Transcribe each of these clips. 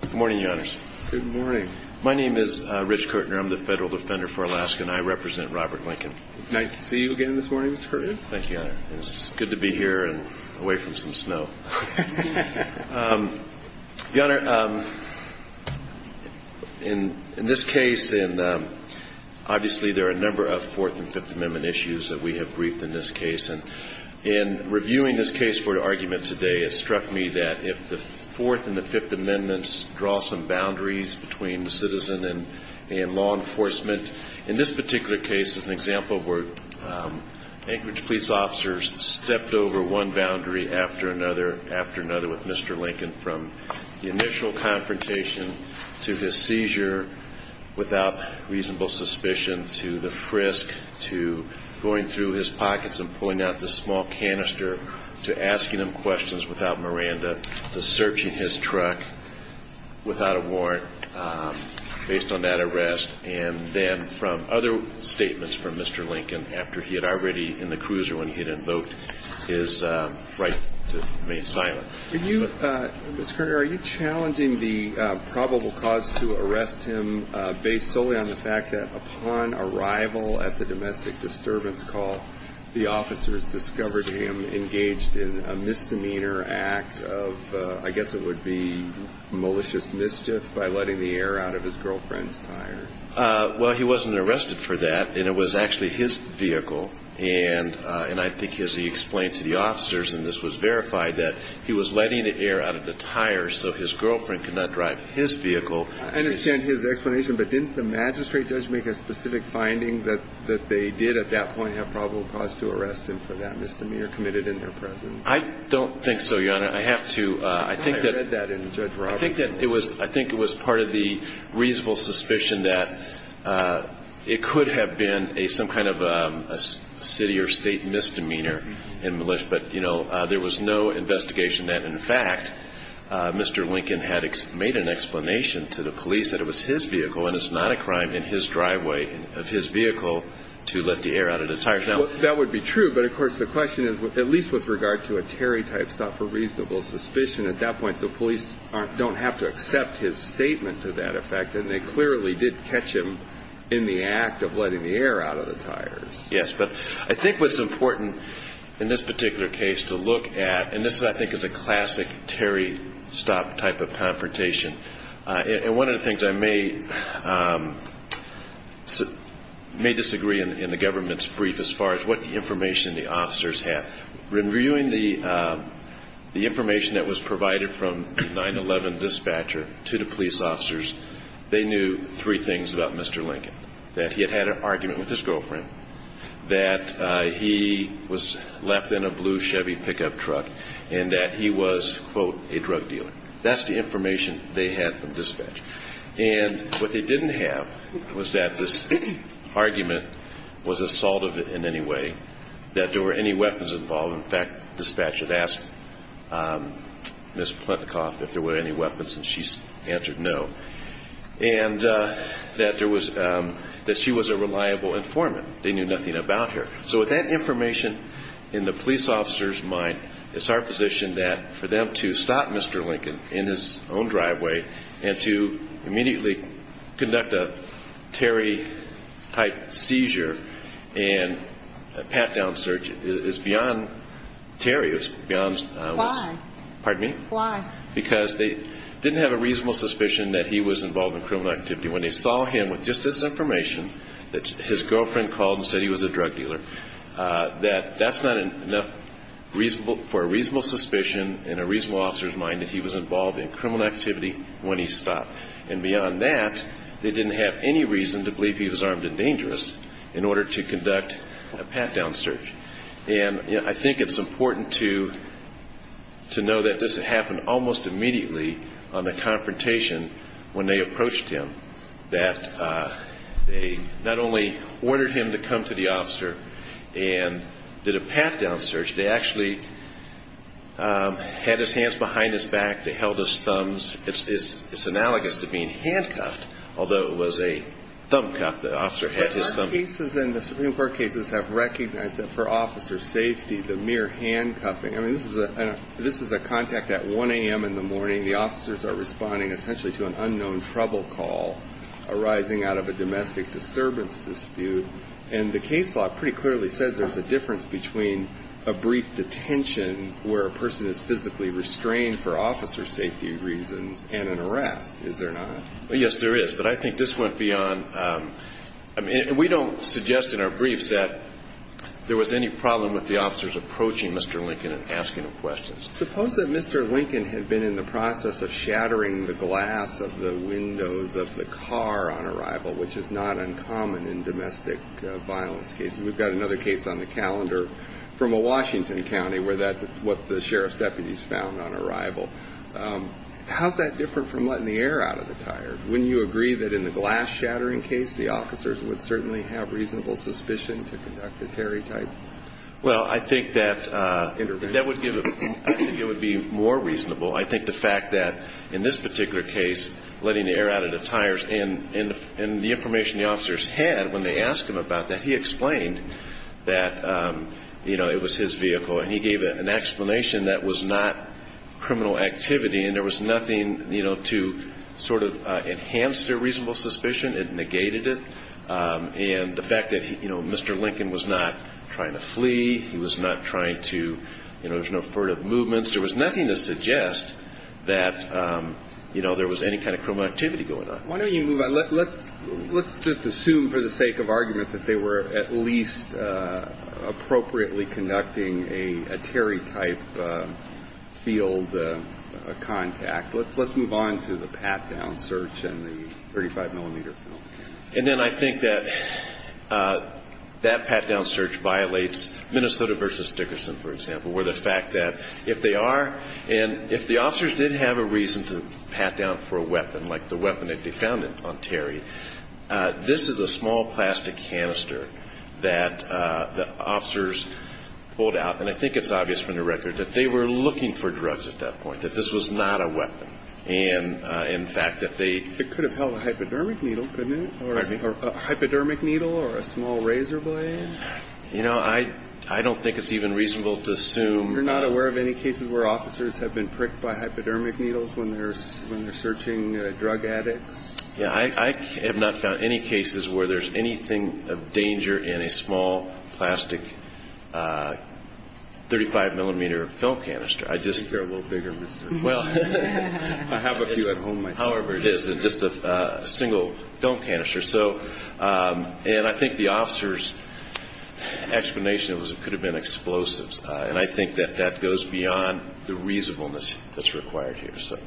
Good morning, Your Honors. Good morning. My name is Rich Kirtner. I'm the Federal Defender for Alaska, and I represent Robert Lincoln. Nice to see you again this morning, Mr. Kirtner. Thank you, Your Honor. It's good to be here and away from some snow. Your Honor, in this case, obviously there are a number of Fourth and Fifth Amendment issues that we have briefed in this case. And in reviewing this case for argument today, it struck me that if the Fourth and the Fifth Amendments draw some boundaries between citizen and law enforcement, in this particular case, as an example, where Anchorage police officers stepped over one boundary after another after another with Mr. Lincoln, from the initial confrontation to his seizure without reasonable suspicion, to the frisk, to going through his pockets and pulling out this small canister, to asking him questions without Miranda, to searching his truck without a warrant based on that arrest, and then from other statements from Mr. Lincoln after he had already, in the cruiser when he had invoked his right to remain silent. Mr. Kirtner, are you challenging the probable cause to arrest him based solely on the fact that upon arrival at the domestic disturbance call, the officers discovered him engaged in a misdemeanor act of, I guess it would be malicious mischief by letting the air out of his girlfriend's tires? Well, he wasn't arrested for that, and it was actually his vehicle. And I think as he explained to the officers, and this was verified, that he was letting the air out of the tires so his girlfriend could not drive his vehicle. I understand his explanation, but didn't the magistrate judge make a specific finding that they did at that point have probable cause to arrest him for that misdemeanor committed in their presence? I don't think so, Your Honor. I have to – I think that – I read that in Judge Roberts. I think that it was – I think it was part of the reasonable suspicion that it could have been some kind of a city or state misdemeanor in malice. But, you know, there was no investigation that, in fact, Mr. Lincoln had made an explanation to the police that it was his vehicle and it's not a crime in his driveway of his vehicle to let the air out of the tires. That would be true. But, of course, the question is, at least with regard to a Terry-type stop for reasonable suspicion, at that point the police don't have to accept his statement to that effect, and they clearly did catch him in the act of letting the air out of the tires. Yes, but I think what's important in this particular case to look at – and this, I think, is a classic Terry stop type of confrontation. And one of the things I may disagree in the government's brief as far as what information the officers had. When reviewing the information that was provided from the 9-11 dispatcher to the police officers, they knew three things about Mr. Lincoln, that he had had an argument with his girlfriend, that he was left in a blue Chevy pickup truck, and that he was, quote, a drug dealer. That's the information they had from dispatch. And what they didn't have was that this argument was assault in any way, that there were any weapons involved. In fact, the dispatcher had asked Ms. Plentikoff if there were any weapons, and she answered no, and that she was a reliable informant. They knew nothing about her. So with that information in the police officer's mind, it's our position that for them to stop Mr. Lincoln in his own driveway and to immediately conduct a Terry-type seizure and pat-down search is beyond Terry. Why? Pardon me? Why? Because they didn't have a reasonable suspicion that he was involved in criminal activity. When they saw him with just this information, that his girlfriend called and said he was a drug dealer, that that's not enough for a reasonable suspicion in a reasonable officer's mind that he was involved in criminal activity when he stopped. And beyond that, they didn't have any reason to believe he was armed and dangerous in order to conduct a pat-down search. And I think it's important to know that this happened almost immediately on the confrontation when they approached him, that they not only ordered him to come to the officer and did a pat-down search. They actually had his hands behind his back. They held his thumbs. It's analogous to being handcuffed, although it was a thumb cuff. The officer had his thumb. But the cases in the Supreme Court cases have recognized that for officers' safety, the mere handcuffing, I mean, this is a contact at 1 a.m. in the morning. The officers are responding essentially to an unknown trouble call arising out of a domestic disturbance dispute. And the case law pretty clearly says there's a difference between a brief detention, where a person is physically restrained for officer safety reasons, and an arrest, is there not? Yes, there is. But I think this went beyond – I mean, we don't suggest in our briefs that there was any problem with the officers approaching Mr. Lincoln and asking him questions. Suppose that Mr. Lincoln had been in the process of shattering the glass of the windows of the car on arrival, which is not uncommon in domestic violence cases. We've got another case on the calendar from a Washington county where that's what the sheriff's deputies found on arrival. How's that different from letting the air out of the tires? Wouldn't you agree that in the glass-shattering case, the officers would certainly have reasonable suspicion to conduct a terror attack? Well, I think that would give – I think it would be more reasonable. I think the fact that in this particular case, letting the air out of the tires, and the information the officers had when they asked him about that, he explained that it was his vehicle and he gave an explanation that was not criminal activity and there was nothing to sort of enhance their reasonable suspicion. It negated it. And the fact that, you know, Mr. Lincoln was not trying to flee. He was not trying to – you know, there was no furtive movements. There was nothing to suggest that, you know, there was any kind of criminal activity going on. Why don't you move on? Let's just assume for the sake of argument that they were at least appropriately conducting a Terry-type field contact. Let's move on to the pat-down search and the 35-millimeter film. And then I think that that pat-down search violates Minnesota v. Dickerson, for example, where the fact that if they are – and if the officers did have a reason to pat down for a weapon, like the weapon that they found on Terry, this is a small plastic canister that the officers pulled out. And I think it's obvious from the record that they were looking for drugs at that point, that this was not a weapon. And, in fact, that they – It could have held a hypodermic needle, couldn't it? A hypodermic needle or a small razor blade? You know, I don't think it's even reasonable to assume – You're not aware of any cases where officers have been pricked by hypodermic needles when they're searching drug addicts? Yeah. I have not found any cases where there's anything of danger in a small plastic 35-millimeter film canister. I just – Well, I have a few at home myself. However, it is just a single film canister. So – and I think the officer's explanation was it could have been explosives. And I think that that goes beyond the reasonableness that's required here. So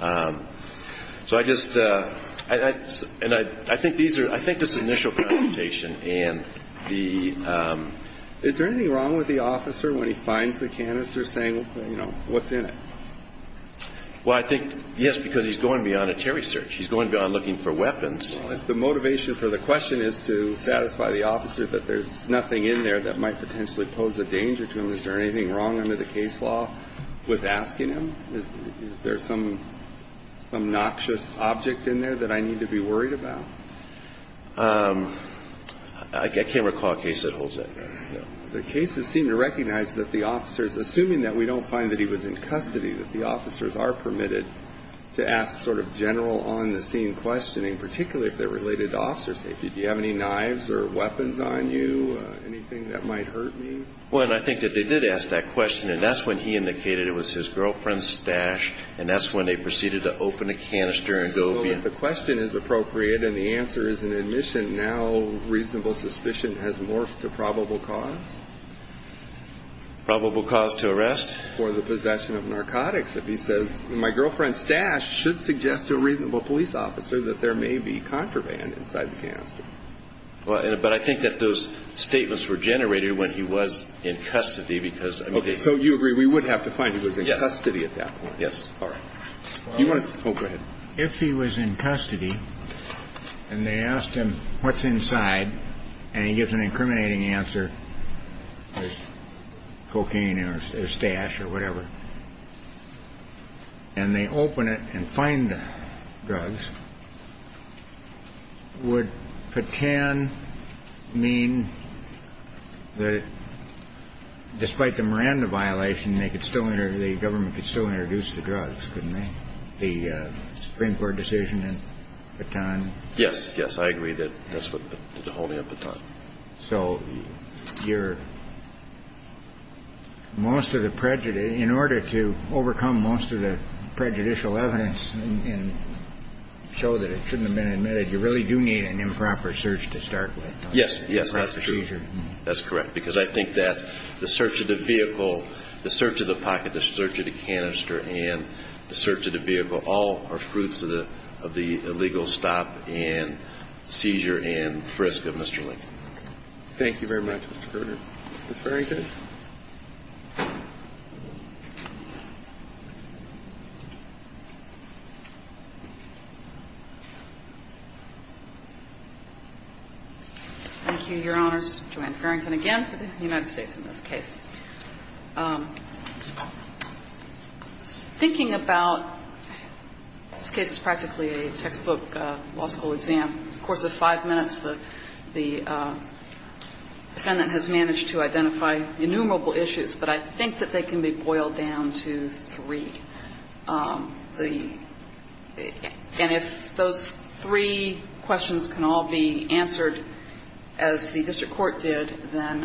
I just – and I think these are – I think this initial confrontation and the – Is there anything wrong with the officer when he finds the canister saying, you know, what's in it? Well, I think, yes, because he's going beyond a Terry search. He's going beyond looking for weapons. Well, if the motivation for the question is to satisfy the officer that there's nothing in there that might potentially pose a danger to him, is there anything wrong under the case law with asking him? Is there some noxious object in there that I need to be worried about? I can't recall a case that holds that. The cases seem to recognize that the officers, assuming that we don't find that he was in custody, that the officers are permitted to ask sort of general on-the-scene questioning, particularly if they're related to officer safety. Do you have any knives or weapons on you, anything that might hurt me? Well, and I think that they did ask that question, and that's when he indicated it was his girlfriend's stash, and that's when they proceeded to open a canister and go – So if the question is appropriate and the answer is an admission, now reasonable suspicion has morphed to probable cause? Probable cause to arrest? For the possession of narcotics, if he says, my girlfriend's stash should suggest to a reasonable police officer that there may be contraband inside the canister. But I think that those statements were generated when he was in custody because – Okay. So you agree we would have to find he was in custody at that point? Yes. Yes. All right. You want to – oh, go ahead. If he was in custody and they asked him what's inside and he gives an incriminating answer, there's cocaine in his stash or whatever, and they open it and find the drugs, would Patan mean that despite the Miranda violation, the government could still introduce the drugs, couldn't they, the Supreme Court decision in Patan? Yes. Yes. I agree that that's what the holding of Patan. So you're – most of the – in order to overcome most of the prejudicial evidence and show that it shouldn't have been admitted, you really do need an improper search to start with, don't you? Yes, that's true. That's procedure. That's correct, because I think that the search of the vehicle, the search of the pocket, the search of the canister, and the search of the vehicle, all are fruits of the illegal stop and seizure and frisk of Mr. Lincoln. Thank you very much, Mr. Governor. That's very good. Thank you, Your Honors. Joanne Farrington again for the United States in this case. Thinking about – this case is practically a textbook law school exam. In the course of five minutes, the defendant has managed to identify innumerable issues, but I think that they can be boiled down to three. The – and if those three questions can all be answered as the district court did, then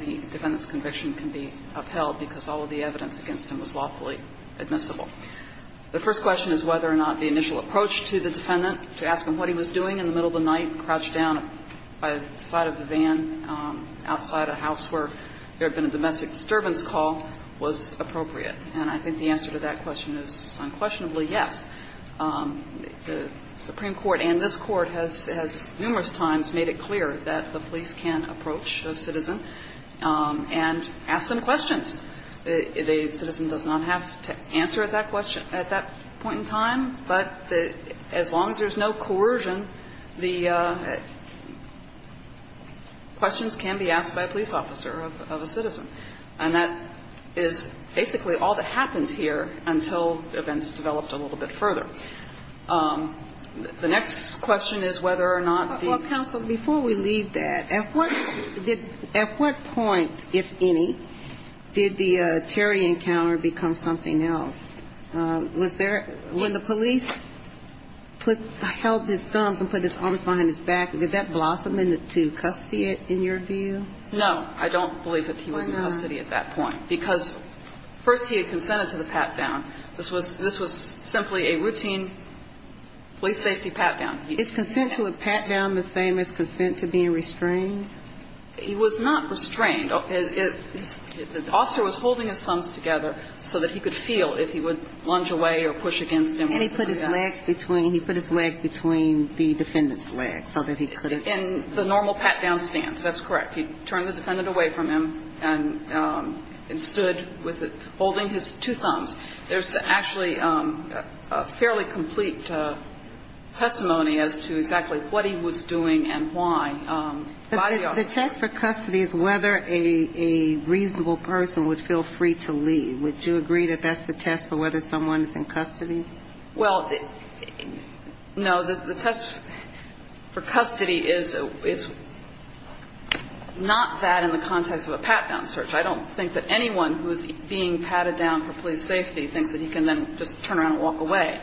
the defendant's conviction can be upheld because all of the evidence against him was lawfully admissible. The first question is whether or not the initial approach to the defendant, to ask him what he was doing in the middle of the night, crouched down by the side of the van outside a house where there had been a domestic disturbance call, was appropriate. And I think the answer to that question is unquestionably yes. The Supreme Court and this Court has numerous times made it clear that the police can approach a citizen and ask them questions. A citizen does not have to answer that question at that point in time. But as long as there's no coercion, the questions can be asked by a police officer of a citizen. And that is basically all that happened here until events developed a little bit further. The next question is whether or not the ---- Did the Terry encounter become something else? Was there – when the police put – held his thumbs and put his arms behind his back, did that blossom into custody in your view? No. I don't believe that he was in custody at that point. Why not? Because first he had consented to the pat-down. This was simply a routine police safety pat-down. Is consent to a pat-down the same as consent to being restrained? He was not restrained. The officer was holding his thumbs together so that he could feel if he would lunge away or push against him. And he put his legs between – he put his leg between the defendant's legs so that he could have – In the normal pat-down stance. That's correct. He turned the defendant away from him and stood with it, holding his two thumbs. There's actually a fairly complete testimony as to exactly what he was doing and why by the officer. The test for custody is whether a reasonable person would feel free to leave. Would you agree that that's the test for whether someone is in custody? Well, no. The test for custody is not that in the context of a pat-down search. I don't think that anyone who is being patted down for police safety thinks that he can then just turn around and walk away,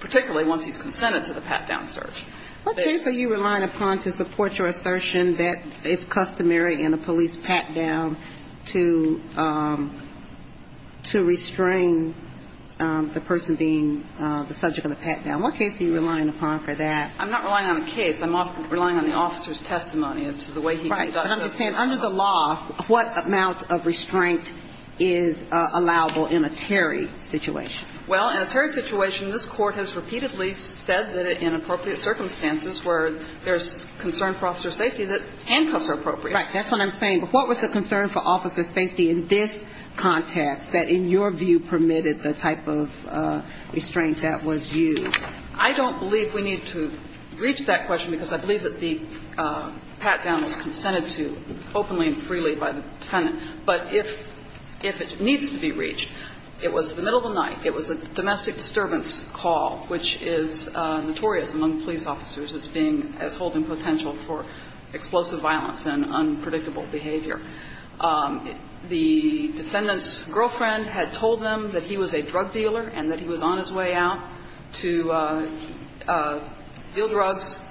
particularly once he's consented to the pat-down search. What case are you relying upon to support your assertion that it's customary in a police pat-down to – to restrain the person being the subject of the pat-down? What case are you relying upon for that? I'm not relying on a case. I'm relying on the officer's testimony as to the way he conducts himself. Right. But I'm just saying under the law, what amount of restraint is allowable in a Terry situation? Well, in a Terry situation, this Court has repeatedly said that in appropriate circumstances where there's concern for officer safety that handcuffs are appropriate. Right. That's what I'm saying. But what was the concern for officer safety in this context that, in your view, permitted the type of restraint that was used? I don't believe we need to reach that question because I believe that the pat-down was consented to openly and freely by the tenant. But if – if it needs to be reached, it was the middle of the night, it was a domestic disturbance call, which is notorious among police officers as being – as holding potential for explosive violence and unpredictable behavior. The defendant's girlfriend had told him that he was a drug dealer and that he was on his way out to deal drugs.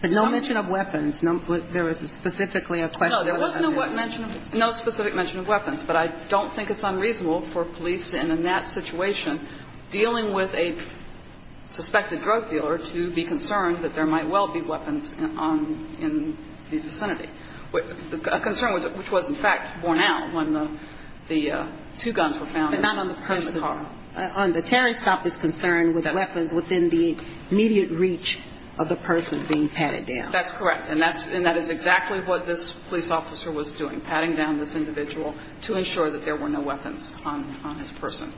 But no mention of weapons. There was specifically a question. No, there was no mention of – no specific mention of weapons. But I don't think it's unreasonable for police, and in that situation, dealing with a suspected drug dealer to be concerned that there might well be weapons in the vicinity, a concern which was, in fact, borne out when the two guns were found in the car. But not on the person. On the Terry stop is concerned with weapons within the immediate reach of the person being patted down. That's correct. And that's – and that is exactly what this police officer was doing, patting down this individual to ensure that there were no weapons on – on his person.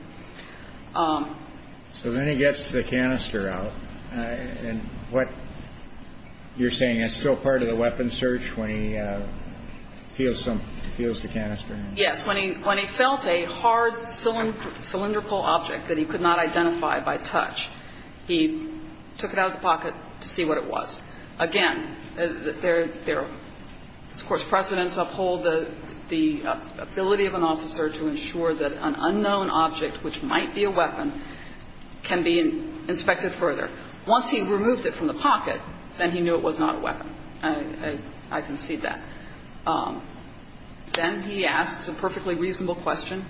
So then he gets the canister out. And what you're saying, it's still part of the weapon search when he feels some – feels the canister? Yes. When he – when he felt a hard cylindrical object that he could not identify by touch, he took it out of the pocket to see what it was. Again, there – of course, precedents uphold the ability of an officer to ensure that an unknown object, which might be a weapon, can be inspected further. Once he removed it from the pocket, then he knew it was not a weapon. I concede that. Then he asks a perfectly reasonable question.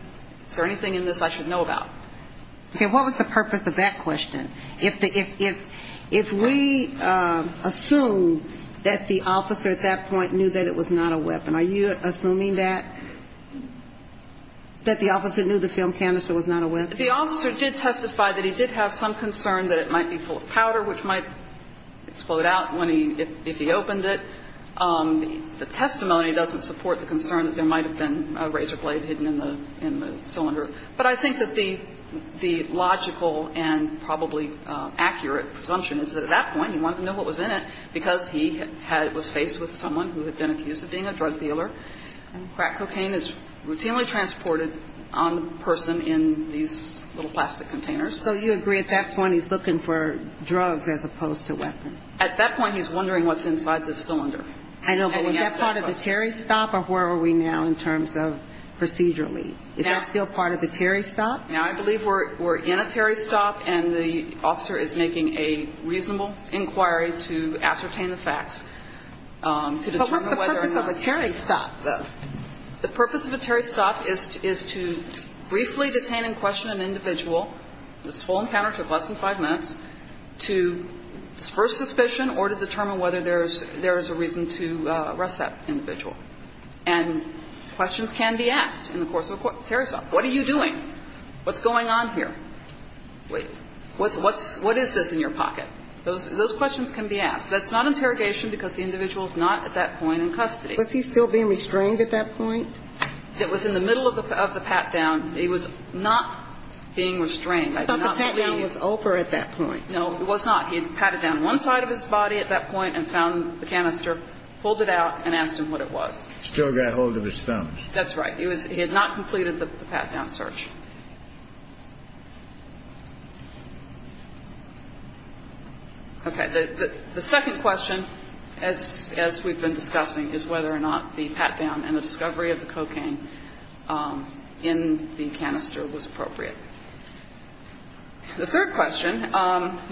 Is there anything in this I should know about? Okay. What was the purpose of that question? If we assume that the officer at that point knew that it was not a weapon, are you assuming that – that the officer knew the film canister was not a weapon? The officer did testify that he did have some concern that it might be full of powder, which might explode out when he – if he opened it. The testimony doesn't support the concern that there might have been a razor blade hidden in the – in the cylinder. But I think that the – the logical and probably accurate presumption is that at that point, he wanted to know what was in it because he had – was faced with someone who had been accused of being a drug dealer. Crack cocaine is routinely transported on the person in these little plastic containers. So you agree at that point he's looking for drugs as opposed to weapons? At that point, he's wondering what's inside the cylinder. I know, but was that part of the Terry stop, or where are we now in terms of procedurally? Is that still part of the Terry stop? Now, I believe we're – we're in a Terry stop, and the officer is making a reasonable inquiry to ascertain the facts, to determine whether or not – But what's the purpose of a Terry stop, though? The purpose of a Terry stop is – is to briefly detain and question an individual – this full encounter took less than five minutes – to disperse suspicion or to determine whether there's – there is a reason to arrest that individual. And questions can be asked in the course of a Terry stop. What are you doing? What's going on here? Wait. What's – what's – what is this in your pocket? Those – those questions can be asked. That's not interrogation because the individual is not at that point in custody. Was he still being restrained at that point? It was in the middle of the – of the pat-down. He was not being restrained. I do not believe he was. I thought the pat-down was over at that point. No, it was not. He had patted down one side of his body at that point and found the canister, pulled it out, and asked him what it was. Still got hold of his thumbs. That's right. He was – he had not completed the pat-down search. Okay. The second question, as – as we've been discussing, is whether or not the pat-down and the discovery of the cocaine in the canister was appropriate. The third question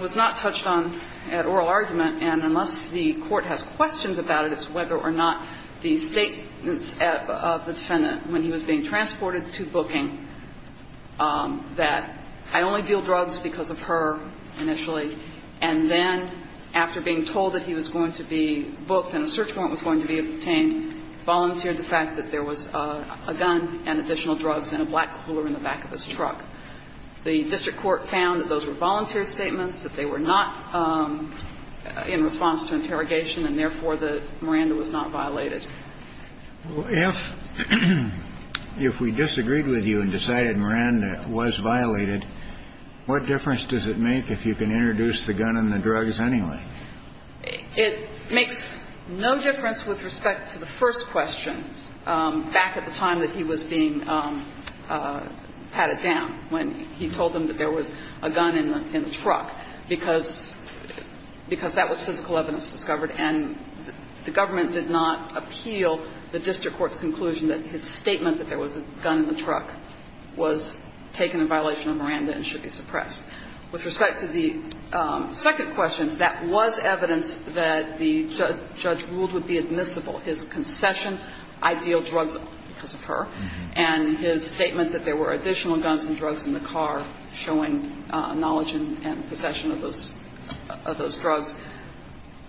was not touched on at oral argument. And unless the Court has questions about it, it's whether or not the statements of the defendant when he was being transported to booking that, I only deal drugs because of her, initially, and then after being told that he was going to be booked and a search warrant was going to be obtained, volunteered the fact that there was a gun and additional drugs and a black cooler in the back of his truck. The district court found that those were volunteer statements, that they were not in response to interrogation, and therefore, the Miranda was not violated. If we disagreed with you and decided Miranda was violated, what difference does it make if you can introduce the gun and the drugs anyway? It makes no difference with respect to the first question, back at the time that he was being patted down, when he told them that there was a gun in the truck, because that was physical evidence discovered and the government did not appeal the district court's conclusion that his statement that there was a gun in the truck was taken in violation of Miranda and should be suppressed. With respect to the second question, that was evidence that the judge ruled would be admissible, his concession, I deal drugs because of her, and his statement that there were additional guns and drugs in the car showing knowledge and possession of those drugs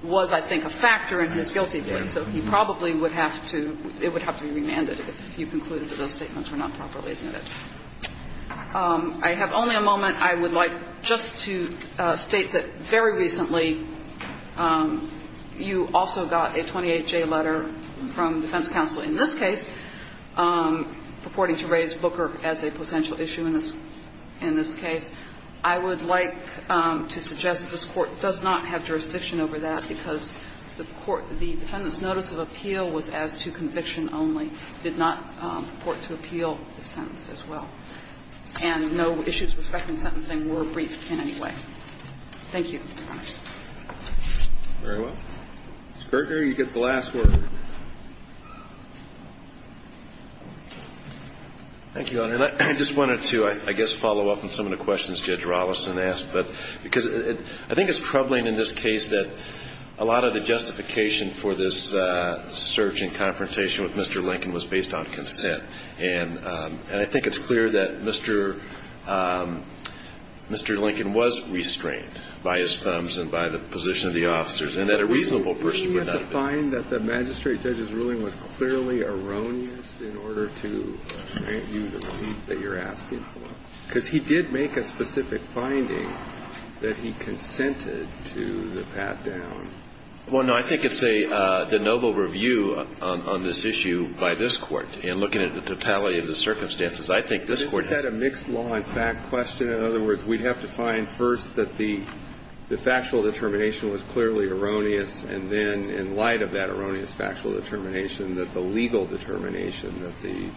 was, I think, a factor in his guilty plea. So he probably would have to be remanded if you concluded that those statements were not properly admitted. I have only a moment. I would like just to state that very recently you also got a 28-J letter from defense counsel in this case purporting to raise Booker as a potential issue in this case. I would like to suggest that this Court does not have jurisdiction over that because the court, the defendant's notice of appeal was as to conviction only. It did not purport to appeal the sentence as well. And no issues with respect to sentencing were briefed in any way. Thank you. Roberts. Very well. Mr. Berger, you get the last word. Thank you, Your Honor. And I just wanted to, I guess, follow up on some of the questions Judge Rolison asked, because I think it's troubling in this case that a lot of the justification for this search and confrontation with Mr. Lincoln was based on consent. And I think it's clear that Mr. Lincoln was restrained by his thumbs and by the position of the officers, and that a reasonable person would not be. of the officers, and that a reasonable person would not be. Do you find that the magistrate judge's ruling was clearly erroneous in order to grant you the review that you're asking for? Because he did make a specific finding that he consented to the pat-down. Well, no, I think it's a noble review on this issue by this Court. And looking at the totality of the circumstances, I think this Court had a mixed law and fact question. In other words, we'd have to find first that the factual determination was clearly erroneous, and then, in light of that erroneous factual determination, that the legal determination that the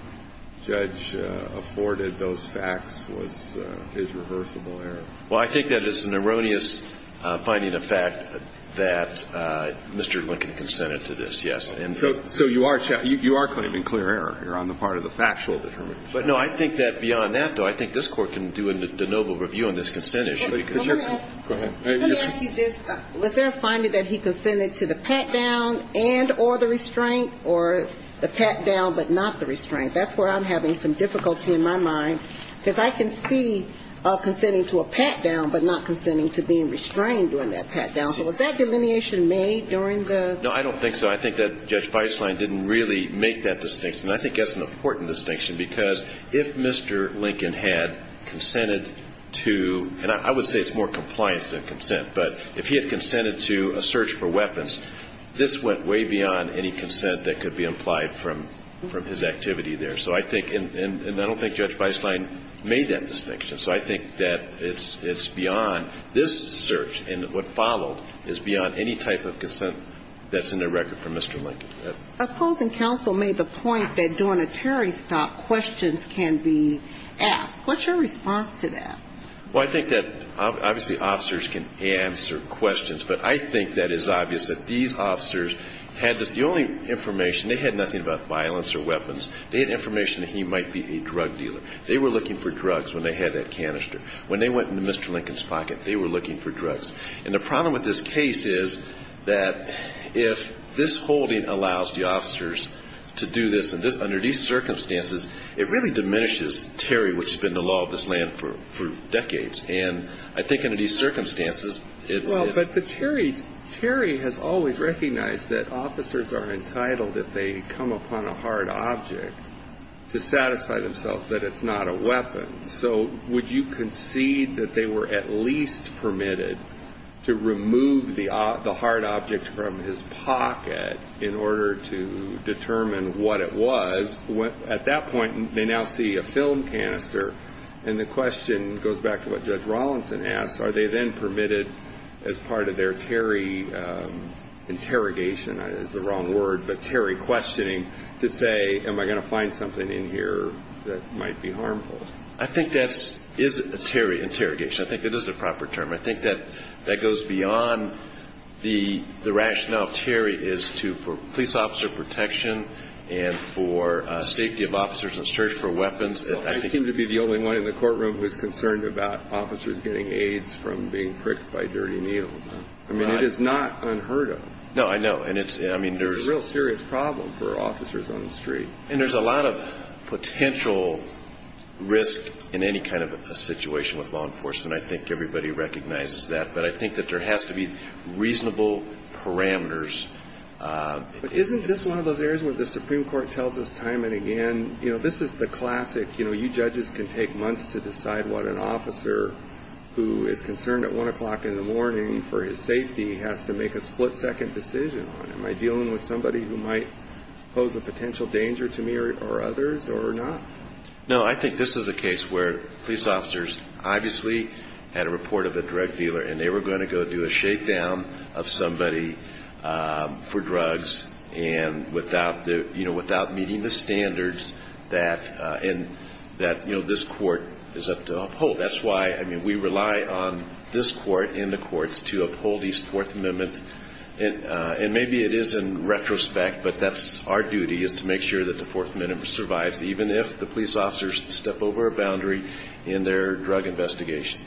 judge afforded those facts was his reversible error. Well, I think that is an erroneous finding of fact that Mr. Lincoln consented to this, yes. So you are claiming clear error here on the part of the factual determination. But, no, I think that beyond that, though, I think this Court can do a noble review on this consent issue. Go ahead. Let me ask you this. Was there a finding that he consented to the pat-down and or the restraint or the pat-down but not the restraint? That's where I'm having some difficulty in my mind, because I can see consenting to a pat-down but not consenting to being restrained during that pat-down. So was that delineation made during the ---- No, I don't think so. I think that Judge Beislein didn't really make that distinction. And I think that's an important distinction, because if Mr. Lincoln had consented to, and I would say it's more compliance than consent, but if he had consented to a search for weapons, this went way beyond any consent that could be implied from his activity there. So I think, and I don't think Judge Beislein made that distinction. So I think that it's beyond this search and what followed is beyond any type of consent that's in the record from Mr. Lincoln. Opposing counsel made the point that during a Terry stop, questions can be asked. What's your response to that? Well, I think that obviously officers can answer questions, but I think that it's obvious that these officers had the only information, they had nothing about violence or weapons. They had information that he might be a drug dealer. They were looking for drugs when they had that canister. When they went into Mr. Lincoln's pocket, they were looking for drugs. And the problem with this case is that if this holding allows the officers to do this under these circumstances, it really diminishes Terry, which has been the law of this land for decades. And I think under these circumstances, it's in. Well, but the Terry has always recognized that officers are entitled, if they come upon a hard object, to satisfy themselves that it's not a weapon. So would you concede that they were at least permitted to remove the hard object from his pocket in order to determine what it was? At that point, they now see a film canister. And the question goes back to what Judge Rawlinson asked. Are they then permitted as part of their Terry interrogation? And that is the wrong word, but Terry questioning to say, am I going to find something in here that might be harmful? I think that is a Terry interrogation. I think it is a proper term. I think that that goes beyond the rationale of Terry is to police officer protection and for safety of officers in search for weapons. I seem to be the only one in the courtroom who is concerned about officers getting AIDS from being pricked by dirty needles. I mean, it is not unheard of. No, I know. There is a real serious problem for officers on the street. And there is a lot of potential risk in any kind of a situation with law enforcement. I think everybody recognizes that. But I think that there has to be reasonable parameters. But isn't this one of those areas where the Supreme Court tells us time and again, this is the classic, you judges can take months to decide what an officer who is concerned at 1 o'clock in the morning for his safety has to make a split-second decision on? Am I dealing with somebody who might pose a potential danger to me or others or not? No, I think this is a case where police officers obviously had a report of a drug dealer and they were going to go do a shakedown of somebody for drugs and without meeting the standards that this court is up to uphold. That's why we rely on this court and the courts to uphold these Fourth Amendments. And maybe it is in retrospect, but that's our duty is to make sure that the Fourth Amendment survives, even if the police officers step over a boundary in their drug investigation.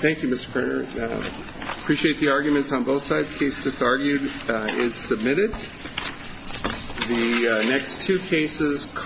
Thank you, Mr. Cronin. I appreciate the arguments on both sides. The case just argued is submitted. The next two cases.